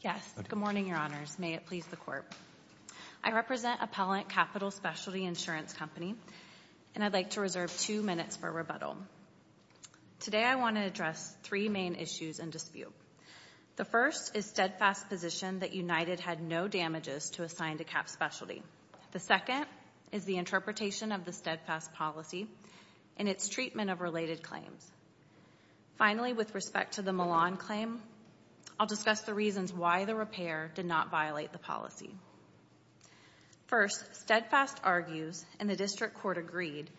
Yes. Good morning, Your Honors. May it please the Court. I represent Appellant Capital Specialty Insurance Company, and I'd like to reserve two minutes for rebuttal. Today I want to address three main issues in dispute. The first is Steadfast's position that United had no damages to assign to Cap Specialty. The second is the interpretation of the Steadfast policy and its treatment of related claims. Finally, with respect to the Milan claim, I'll discuss the reasons why the repair did not violate the policy. First, Steadfast argues, and the District Court agreed,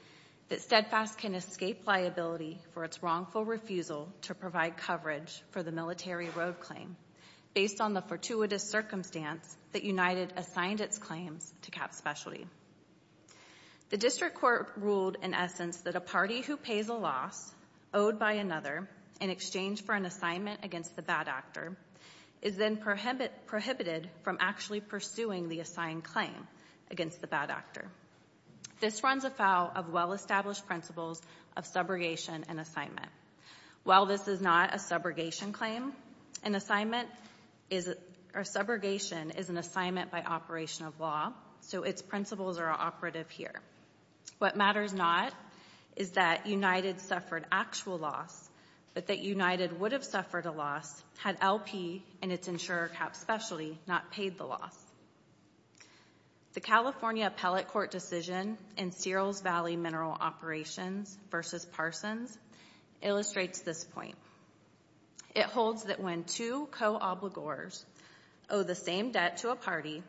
that Steadfast can escape liability for its wrongful refusal to provide coverage for the Military Road Claim based on the fortuitous circumstance that United assigned its claims to Cap Specialty. The District Court ruled, in essence, that a party who pays a loss, owed by another, in exchange for an assignment against the bad actor, is then prohibited from actually pursuing the assigned claim against the bad actor. This runs afoul of well-established principles of subrogation and assignment. While this is not a subrogation claim, a subrogation is an assignment by operation of law, so its principles are operative here. What matters not is that United suffered actual loss, but that United would have suffered a loss had LP and its insurer, Cap Specialty, not paid the loss. The California Appellate Court decision in Searles Valley Mineral Operations v. Parsons illustrates this point. It holds that when two co-obligors owe the same debt to a party,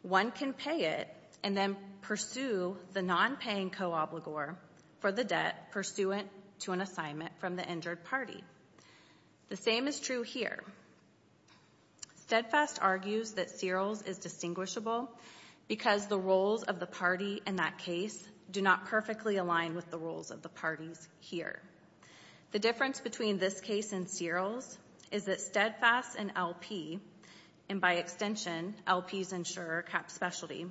one can pay it and then pursue the non-paying co-obligor for the debt pursuant to an assignment from the injured party. The same is true here. Steadfast argues that Searles is distinguishable because the roles of the party in that case do not perfectly align with the roles of the parties here. The difference between this case and Searles is that Steadfast and LP, and by extension LP's insurer, Cap Specialty,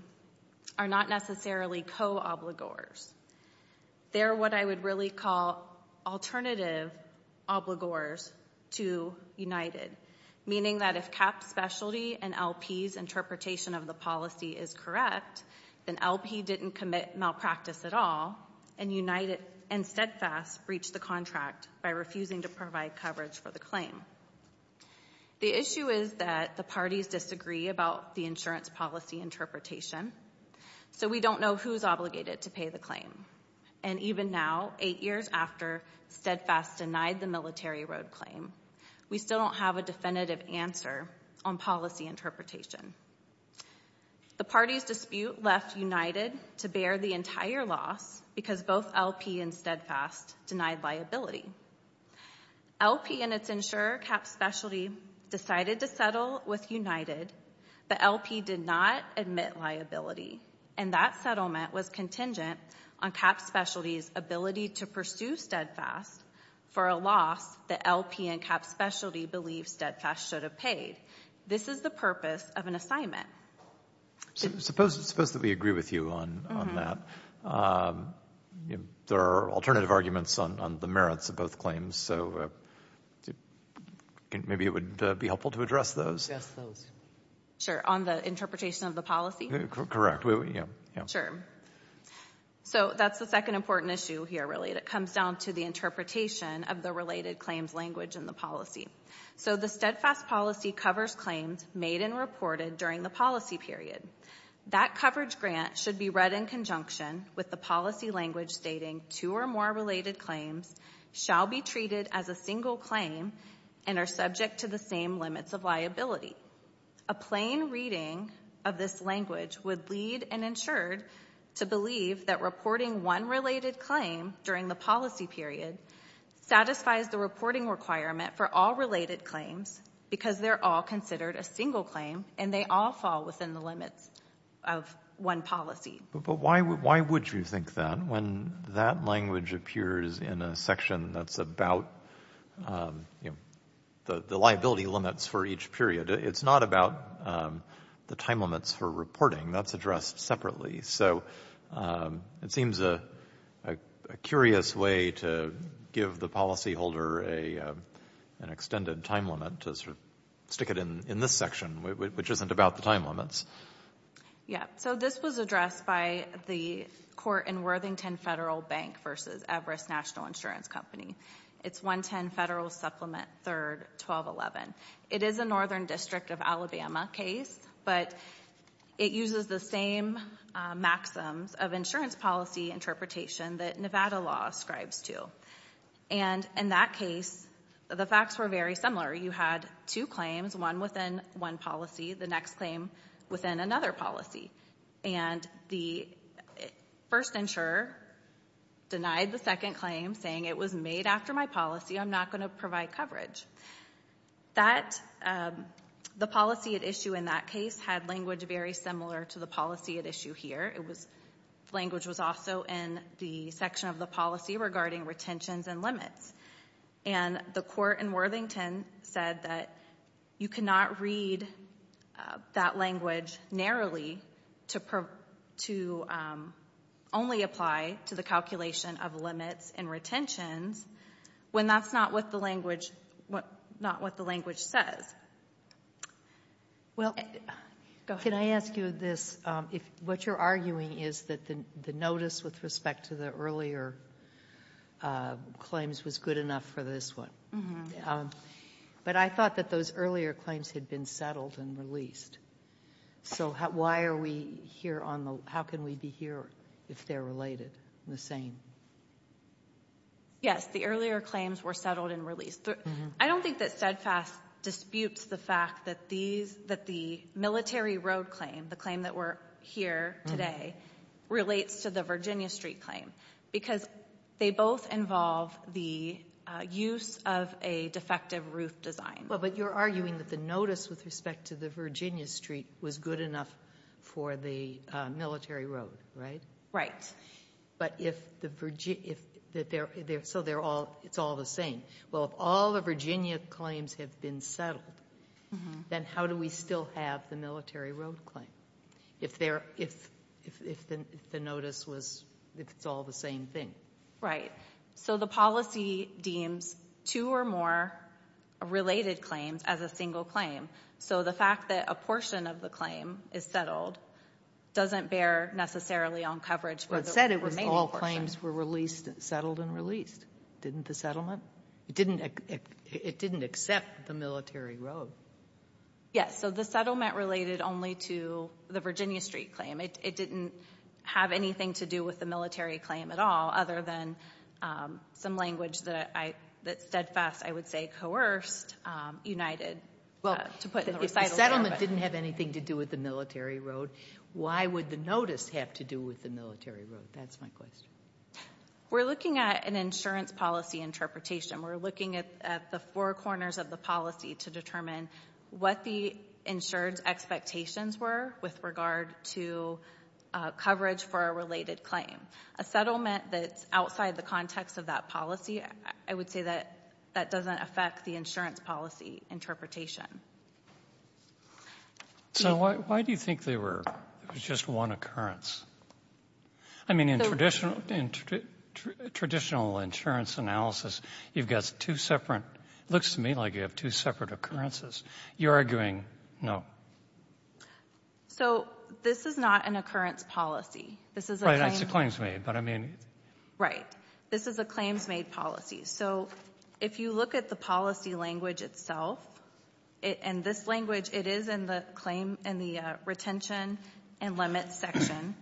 are not necessarily co-obligors. They're what I would really call alternative obligors to United, meaning that if Cap Specialty and LP's interpretation of the policy is correct, then LP didn't commit malpractice at all and United and Steadfast breached the contract by refusing to provide coverage for the claim. The issue is that the parties disagree about the insurance policy interpretation, so we don't know who's obligated to pay the claim. And even now, eight years after Steadfast denied the Military Road claim, we still don't have a definitive answer on policy interpretation. The parties dispute left United to bear the entire loss because both LP and Steadfast denied liability. LP and its insurer, Cap Specialty, decided to settle with United, but LP did not admit liability, and that settlement was contingent on Cap Specialty's ability to pursue Steadfast for a loss that LP and Cap Specialty believe Steadfast should have paid. This is the purpose of an assignment. Suppose that we agree with you on that. There are alternative arguments on the merits of both claims, so maybe it would be helpful to address those. Sure, on the interpretation of the policy? Correct. Sure. So that's the second important issue here, really, that comes down to the interpretation of the related claims language in the policy. So the Steadfast policy covers claims made and reported during the policy period. That coverage grant should be read in conjunction with the policy language stating two or more related claims shall be treated as a single claim and are subject to the same limits of liability. A plain reading of this language would lead an insurer to believe that reporting one related claim during the policy period satisfies the reporting requirement for all related claims because they're all considered a single claim and they all fall within the limits of one policy. But why would you think that when that language appears in a section that's about the liability limits for each period? It's not about the time limits for reporting. That's addressed separately. So it seems a curious way to give the policyholder an extended time limit to sort of stick it in this section, which isn't about the time limits. Yeah, so this was addressed by the court in Worthington Federal Bank versus Everest National Insurance Company. It's 110 Federal Supplement 3rd, 1211. It is a northern district of Alabama case, but it uses the same maxims of insurance policy interpretation that Nevada law ascribes to. And in that case, the facts were very similar. You had two claims, one within one policy, the next claim within another policy. And the first insurer denied the second claim, saying it was made after my policy, I'm not going to provide coverage. The policy at issue in that case had language very similar to the policy at issue here. Language was also in the section of the policy regarding retentions and limits. And the court in Worthington said that you cannot read that language narrowly to only apply to the calculation of limits and retentions when that's not what the language says. Well, can I ask you this? What you're arguing is that the notice with respect to the earlier claims was good enough for this one. But I thought that those earlier claims had been settled and released. So how can we be sure if they're related and the same? Yes, the earlier claims were settled and released. I don't think that steadfast disputes the fact that the military road claim, the claim that we're here today, relates to the Virginia Street claim because they both involve the use of a defective roof design. Well, but you're arguing that the notice with respect to the Virginia Street was good enough for the military road, right? Right. So it's all the same. Well, if all the Virginia claims have been settled, then how do we still have the military road claim if it's all the same thing? Right. So the policy deems two or more related claims as a single claim. So the fact that a portion of the claim is settled doesn't bear necessarily on coverage for the remaining portions. But it said it was all claims were settled and released. Didn't the settlement? It didn't accept the military road. Yes. So the settlement related only to the Virginia Street claim. It didn't have anything to do with the military claim at all other than some language that steadfast, I would say, coerced, united. Well, the settlement didn't have anything to do with the military road. Why would the notice have to do with the military road? That's my question. We're looking at an insurance policy interpretation. We're looking at the four corners of the policy to determine what the insurance expectations were with regard to coverage for a related claim. A settlement that's outside the context of that policy, I would say that that doesn't affect the insurance policy interpretation. So why do you think there was just one occurrence? I mean, in traditional insurance analysis, you've got two separate – it looks to me like you have two separate occurrences. You're arguing no. So this is not an occurrence policy. Right, it's a claims made, but I mean – Right. This is a claims made policy. So if you look at the policy language itself, and this language, it is in the claim in the retention and limits section.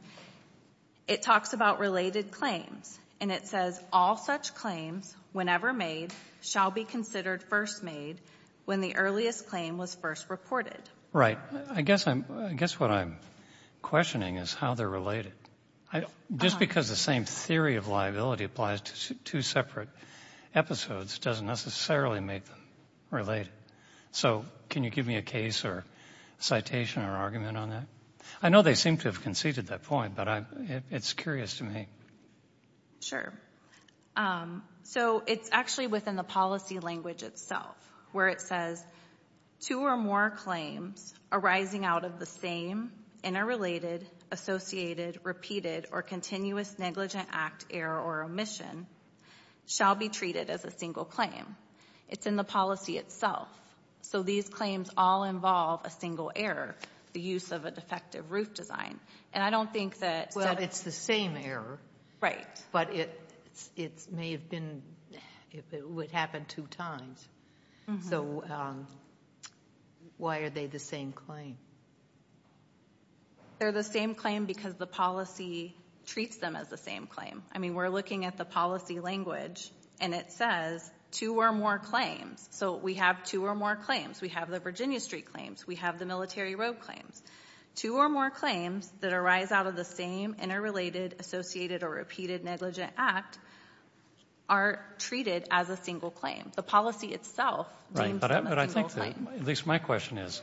It talks about related claims, and it says, all such claims, whenever made, shall be considered first made when the earliest claim was first reported. Right. I guess what I'm questioning is how they're related. Just because the same theory of liability applies to two separate episodes doesn't necessarily make them related. So can you give me a case or citation or argument on that? I know they seem to have conceded that point, but it's curious to me. Sure. So it's actually within the policy language itself, where it says two or more claims arising out of the same interrelated, associated, repeated, or continuous negligent act, error, or omission shall be treated as a single claim. It's in the policy itself. So these claims all involve a single error, the use of a defective roof design. And I don't think that – Well, it's the same error. Right. But it may have been – it would happen two times. So why are they the same claim? They're the same claim because the policy treats them as the same claim. I mean, we're looking at the policy language, and it says two or more claims. So we have two or more claims. We have the Virginia Street claims. We have the Military Road claims. Two or more claims that arise out of the same interrelated, associated, or repeated negligent act are treated as a single claim. The policy itself deems them as a single claim. Right. But I think that – at least my question is,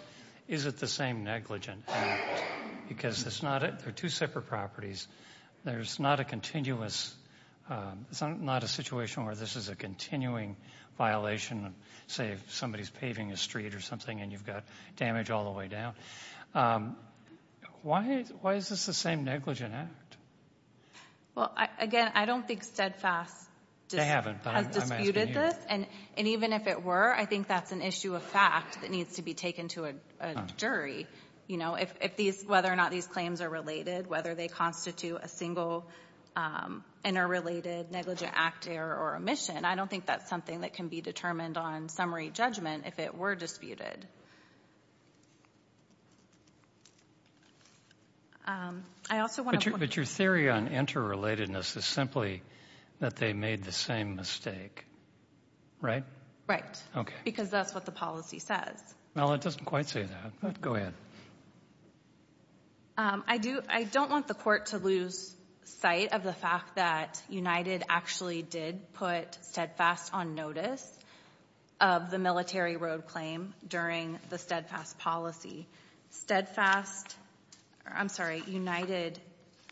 is it the same negligent act? Because it's not – they're two separate properties. There's not a continuous – it's not a situation where this is a continuing violation, say if somebody's paving a street or something and you've got damage all the way down. Why is this the same negligent act? Well, again, I don't think Steadfast has disputed this. And even if it were, I think that's an issue of fact that needs to be taken to a jury. You know, if these – whether or not these claims are related, whether they constitute a single interrelated negligent act error or omission, I don't think that's something that can be determined on summary judgment if it were disputed. I also want to point out – But your theory on interrelatedness is simply that they made the same mistake, right? Right. Okay. Because that's what the policy says. Well, it doesn't quite say that, but go ahead. I do – I don't want the court to lose sight of the fact that United actually did put Steadfast on notice of the Military Road Claim during the Steadfast policy. Steadfast – I'm sorry, United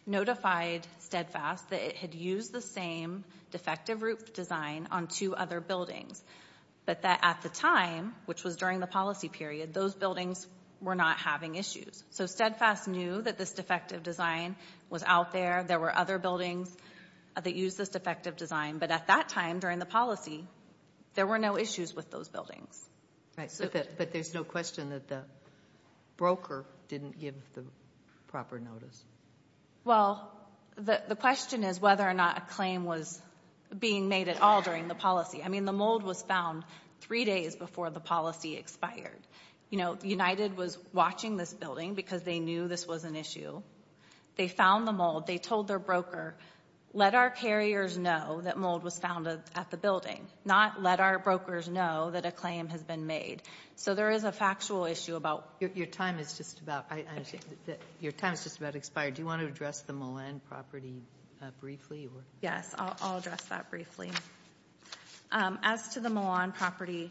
notified Steadfast that it had used the same defective roof design on two other buildings, but that at the time, which was during the policy period, those buildings were not having issues. So Steadfast knew that this defective design was out there. There were other buildings that used this defective design. But at that time, during the policy, there were no issues with those buildings. But there's no question that the broker didn't give the proper notice. Well, the question is whether or not a claim was being made at all during the policy. I mean, the mold was found three days before the policy expired. You know, United was watching this building because they knew this was an issue. They found the mold. They told their broker, let our carriers know that mold was found at the building, not let our brokers know that a claim has been made. So there is a factual issue about – Your time is just about – your time is just about expired. Do you want to address the Milan property briefly? Yes, I'll address that briefly. As to the Milan property,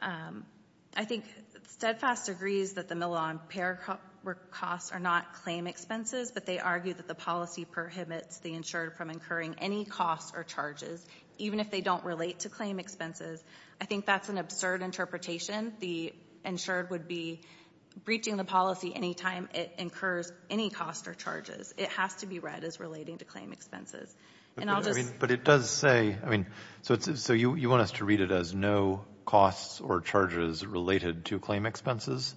I think Steadfast agrees that the Milan paperwork costs are not claim expenses, but they argue that the policy prohibits the insured from incurring any costs or charges, even if they don't relate to claim expenses. I think that's an absurd interpretation. The insured would be breaching the policy any time it incurs any costs or charges. It has to be read as relating to claim expenses. But it does say – so you want us to read it as no costs or charges related to claim expenses?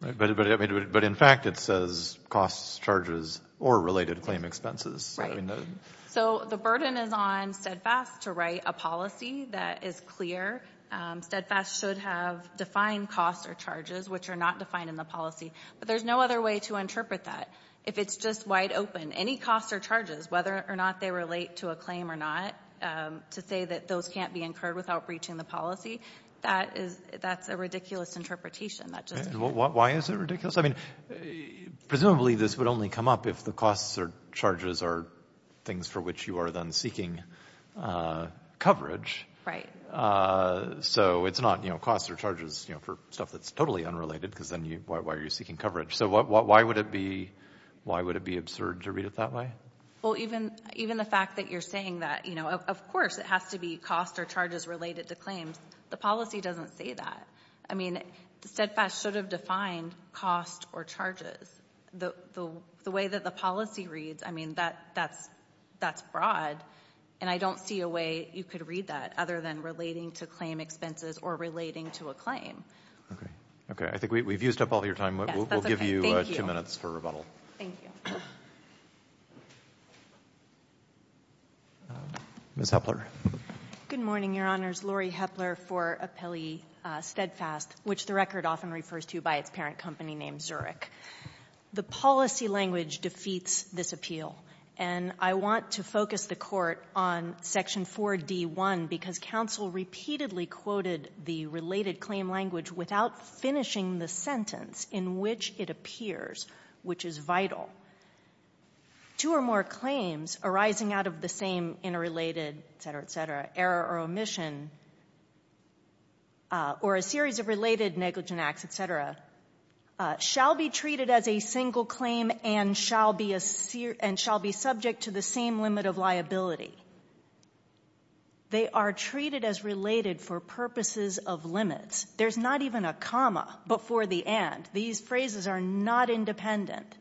But in fact it says costs, charges, or related claim expenses. So the burden is on Steadfast to write a policy that is clear. Steadfast should have defined costs or charges, which are not defined in the policy. But there's no other way to interpret that. If it's just wide open, any costs or charges, whether or not they relate to a claim or not, to say that those can't be incurred without breaching the policy, that's a ridiculous interpretation. Why is it ridiculous? I mean, presumably this would only come up if the costs or charges are things for which you are then seeking coverage. Right. So it's not costs or charges for stuff that's totally unrelated, because then why are you seeking coverage? So why would it be absurd to read it that way? Well, even the fact that you're saying that, you know, of course it has to be costs or charges related to claims. The policy doesn't say that. I mean, Steadfast should have defined costs or charges. The way that the policy reads, I mean, that's broad, and I don't see a way you could read that other than relating to claim expenses or relating to a claim. Okay. I think we've used up all your time. We'll give you two minutes for rebuttal. Thank you. Ms. Hepler. Good morning, Your Honors. Laurie Hepler for Appellee Steadfast, which the record often refers to by its parent company named Zurich. The policy language defeats this appeal, and I want to focus the Court on Section 4D1, because counsel repeatedly quoted the related claim language without finishing the sentence in which it appears, which is vital. Two or more claims arising out of the same interrelated, et cetera, et cetera, error or omission or a series of related negligent acts, et cetera, shall be treated as a single claim and shall be subject to the same limit of liability. They are treated as related for purposes of limits. There's not even a comma before the and. These phrases are not independent.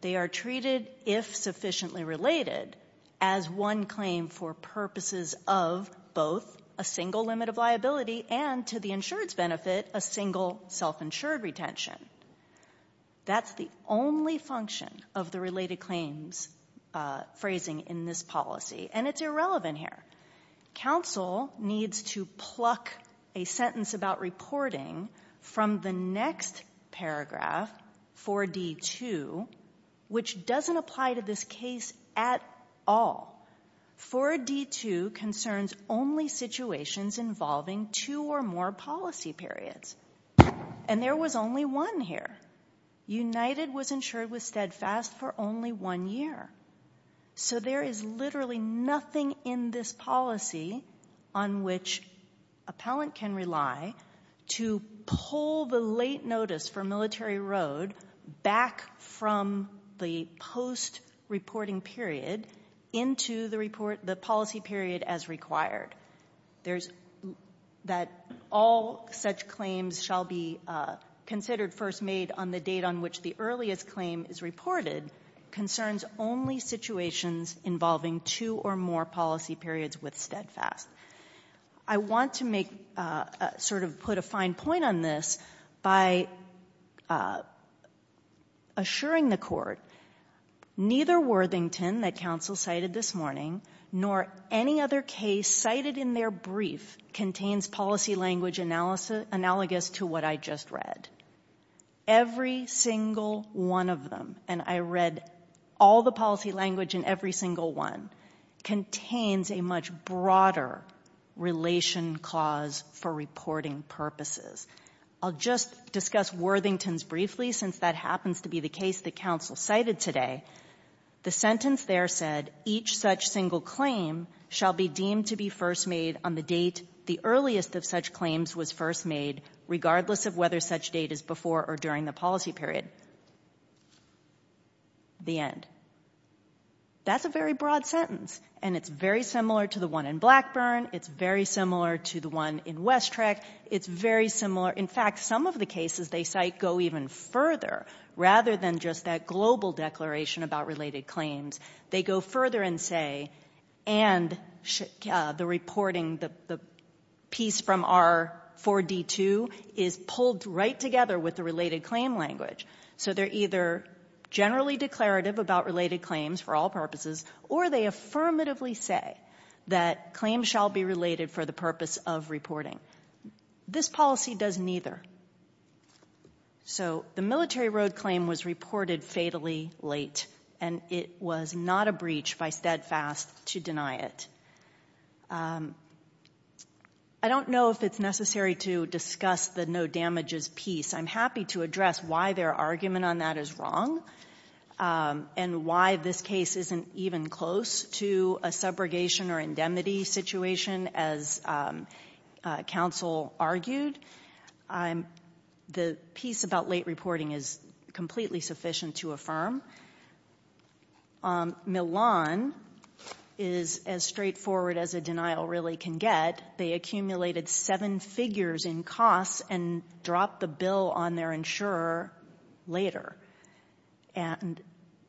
They are treated, if sufficiently related, as one claim for purposes of both a single limit of liability and, to the insured's benefit, a single self-insured retention. That's the only function of the related claims phrasing in this policy, and it's irrelevant here. Counsel needs to pluck a sentence about reporting from the next paragraph, 4D2, which doesn't apply to this case at all. 4D2 concerns only situations involving two or more policy periods, and there was only one here. United was insured with Steadfast for only one year, so there is literally nothing in this policy on which appellant can rely to pull the late notice for Military Road back from the post-reporting period into the policy period as required. That all such claims shall be considered first made on the date on which the earliest claim is reported concerns only situations involving two or more policy periods with Steadfast. I want to make a sort of put a fine point on this by assuring the Court, neither Worthington, that counsel cited this morning, nor any other case cited in their brief contains policy language analogous to what I just read. Every single one of them, and I read all the policy language in every single one, contains a much broader relation clause for reporting purposes. I'll just discuss Worthington's briefly since that happens to be the case that counsel cited today. The sentence there said, each such single claim shall be deemed to be first made on the date the earliest of such claims was first made, regardless of whether such date is before or during the policy period. The end. That's a very broad sentence, and it's very similar to the one in Blackburn. It's very similar to the one in West Trek. It's very similar. In fact, some of the cases they cite go even further rather than just that global declaration about related claims. They go further and say, and the reporting, the piece from R4D2 is pulled right together with the related claim language. So they're either generally declarative about related claims for all purposes or they affirmatively say that claims shall be related for the purpose of reporting. This policy does neither. So the Military Road claim was reported fatally late, and it was not a breach by Steadfast to deny it. I don't know if it's necessary to discuss the no damages piece. I'm happy to address why their argument on that is wrong and why this case isn't even close to a subrogation or indemnity situation, as counsel argued. The piece about late reporting is completely sufficient to affirm. Milan is as straightforward as a denial really can get. They accumulated seven figures in costs and dropped the bill on their insurer later. And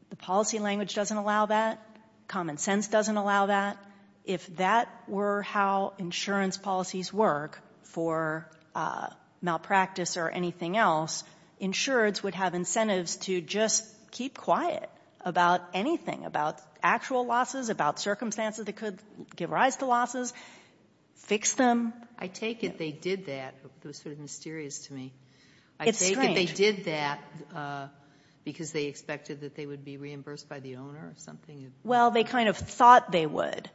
the policy language doesn't allow that. Common sense doesn't allow that. If that were how insurance policies work for malpractice or anything else, insurers would have incentives to just keep quiet about anything, about actual losses, about circumstances that could give rise to losses, fix them. I take it they did that. It was sort of mysterious to me. It's strange. I take it they did that because they expected that they would be reimbursed by the owner or something. Well, they kind of thought they would.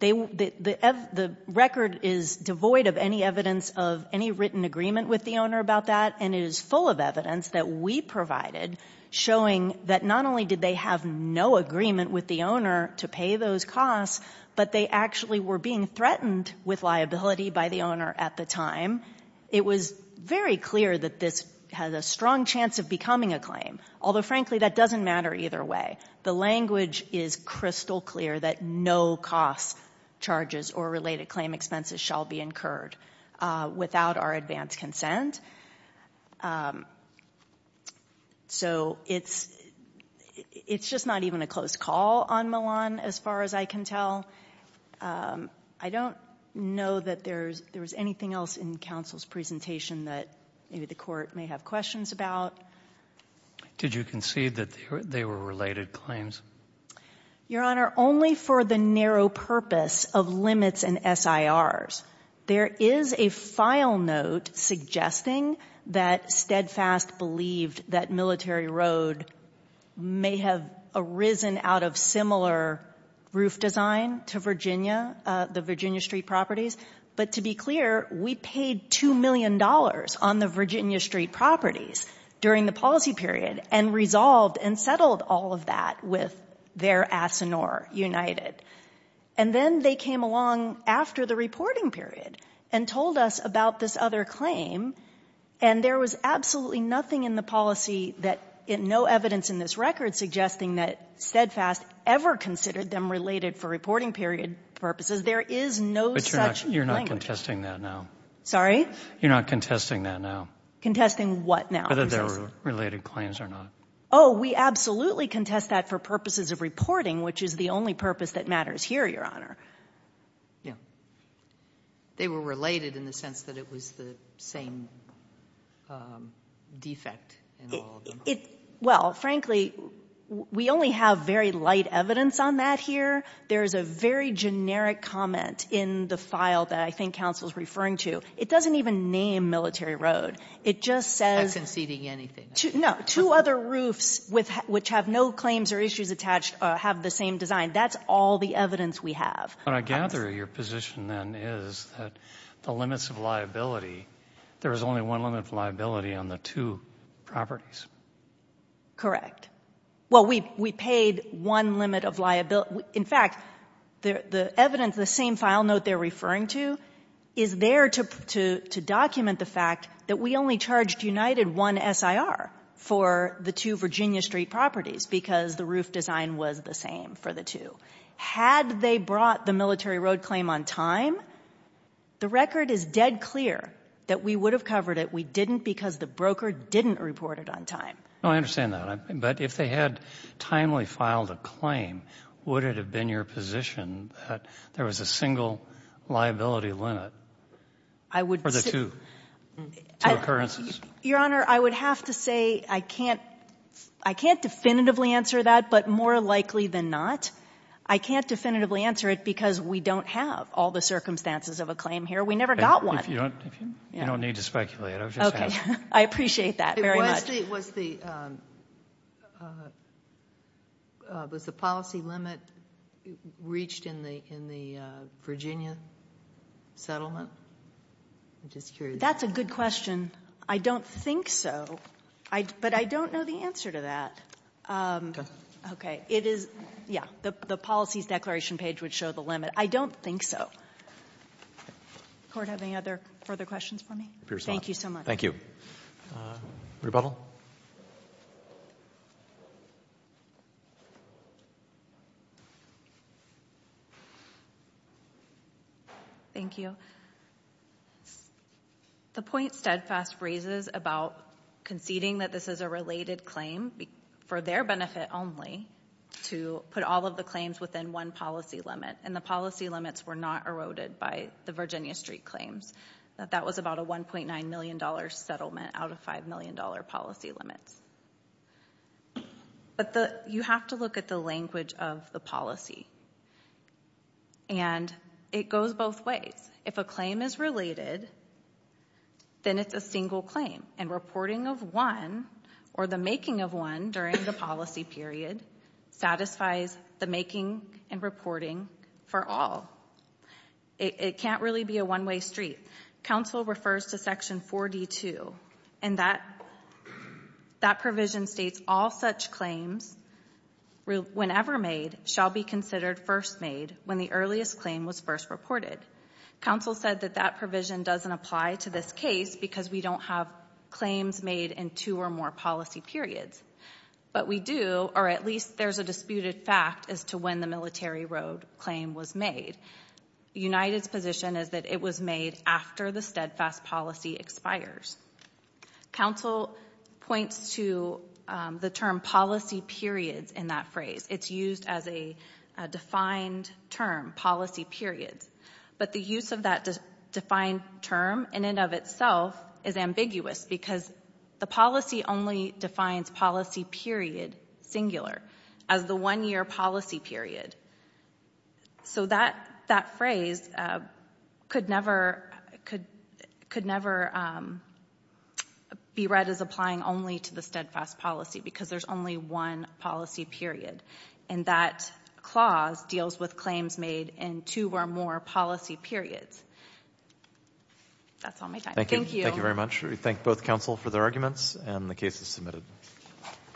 The record is devoid of any evidence of any written agreement with the owner about that, and it is full of evidence that we provided showing that not only did they have no agreement with the owner to pay those costs, but they actually were being threatened with liability by the owner at the time. It was very clear that this has a strong chance of becoming a claim, although, frankly, that doesn't matter either way. The language is crystal clear that no cost charges or related claim expenses shall be incurred without our advance consent. So it's just not even a close call on Milan as far as I can tell. I don't know that there was anything else in counsel's presentation that maybe the Court may have questions about. Did you concede that they were related claims? Your Honor, only for the narrow purpose of limits and SIRs. There is a file note suggesting that Steadfast believed that Military Road may have arisen out of similar roof design to Virginia, the Virginia Street properties. But to be clear, we paid $2 million on the Virginia Street properties during the policy period and resolved and settled all of that with their Asinore United. And then they came along after the reporting period and told us about this other claim, and there was absolutely nothing in the policy, no evidence in this record suggesting that Steadfast ever considered them related for reporting period purposes. There is no such language. But you're not contesting that now. Sorry? You're not contesting that now. Contesting what now? Whether they were related claims or not. Oh, we absolutely contest that for purposes of reporting, which is the only purpose that matters here, Your Honor. Yeah. They were related in the sense that it was the same defect in all of them. Well, frankly, we only have very light evidence on that here. There is a very generic comment in the file that I think counsel is referring to. It doesn't even name Military Road. It just says to other roofs which have no claims or issues attached or have the same design. That's all the evidence we have. What I gather of your position then is that the limits of liability, there is only one limit of liability on the two properties. Correct. Well, we paid one limit of liability. In fact, the evidence, the same file note they're referring to, is there to document the fact that we only charged United one SIR for the two was the same for the two. Had they brought the Military Road claim on time, the record is dead clear that we would have covered it. We didn't because the broker didn't report it on time. No, I understand that. But if they had timely filed a claim, would it have been your position that there was a single liability limit for the two? Two occurrences? Your Honor, I would have to say I can't definitively answer that, but more likely than not, I can't definitively answer it because we don't have all the circumstances of a claim here. We never got one. If you don't need to speculate, I was just asking. Okay. I appreciate that very much. Was the policy limit reached in the Virginia settlement? I'm just curious. That's a good question. I don't think so. But I don't know the answer to that. Okay. It is, yeah, the policies declaration page would show the limit. I don't think so. Does the Court have any other further questions for me? Thank you so much. Thank you. Rebuttal. Thank you. The point Steadfast raises about conceding that this is a related claim for their benefit only to put all of the claims within one policy limit, and the policy limits were not eroded by the Virginia Street claims, that that was about a $1.9 million settlement out of $5 million policy limits. But you have to look at the language of the policy, and it goes both ways. If a claim is related, then it's a single claim, and reporting of one or the making of one during the policy period satisfies the making and reporting for all. It can't really be a one-way street. Council refers to Section 42, and that provision states all such claims, whenever made, shall be considered first made when the earliest claim was first reported. Council said that that provision doesn't apply to this case because we don't have claims made in two or more policy periods. But we do, or at least there's a disputed fact, as to when the Military Road claim was made. United's position is that it was made after the Steadfast policy expires. Council points to the term policy periods in that phrase. It's used as a defined term, policy periods. But the use of that defined term, in and of itself, is ambiguous because the policy only defines policy period, singular, as the one-year policy period. So that phrase could never be read as applying only to the Steadfast policy because there's only one policy period. And that clause deals with claims made in two or more policy periods. That's all my time. Thank you. Thank you very much. We thank both Council for their arguments, and the case is submitted.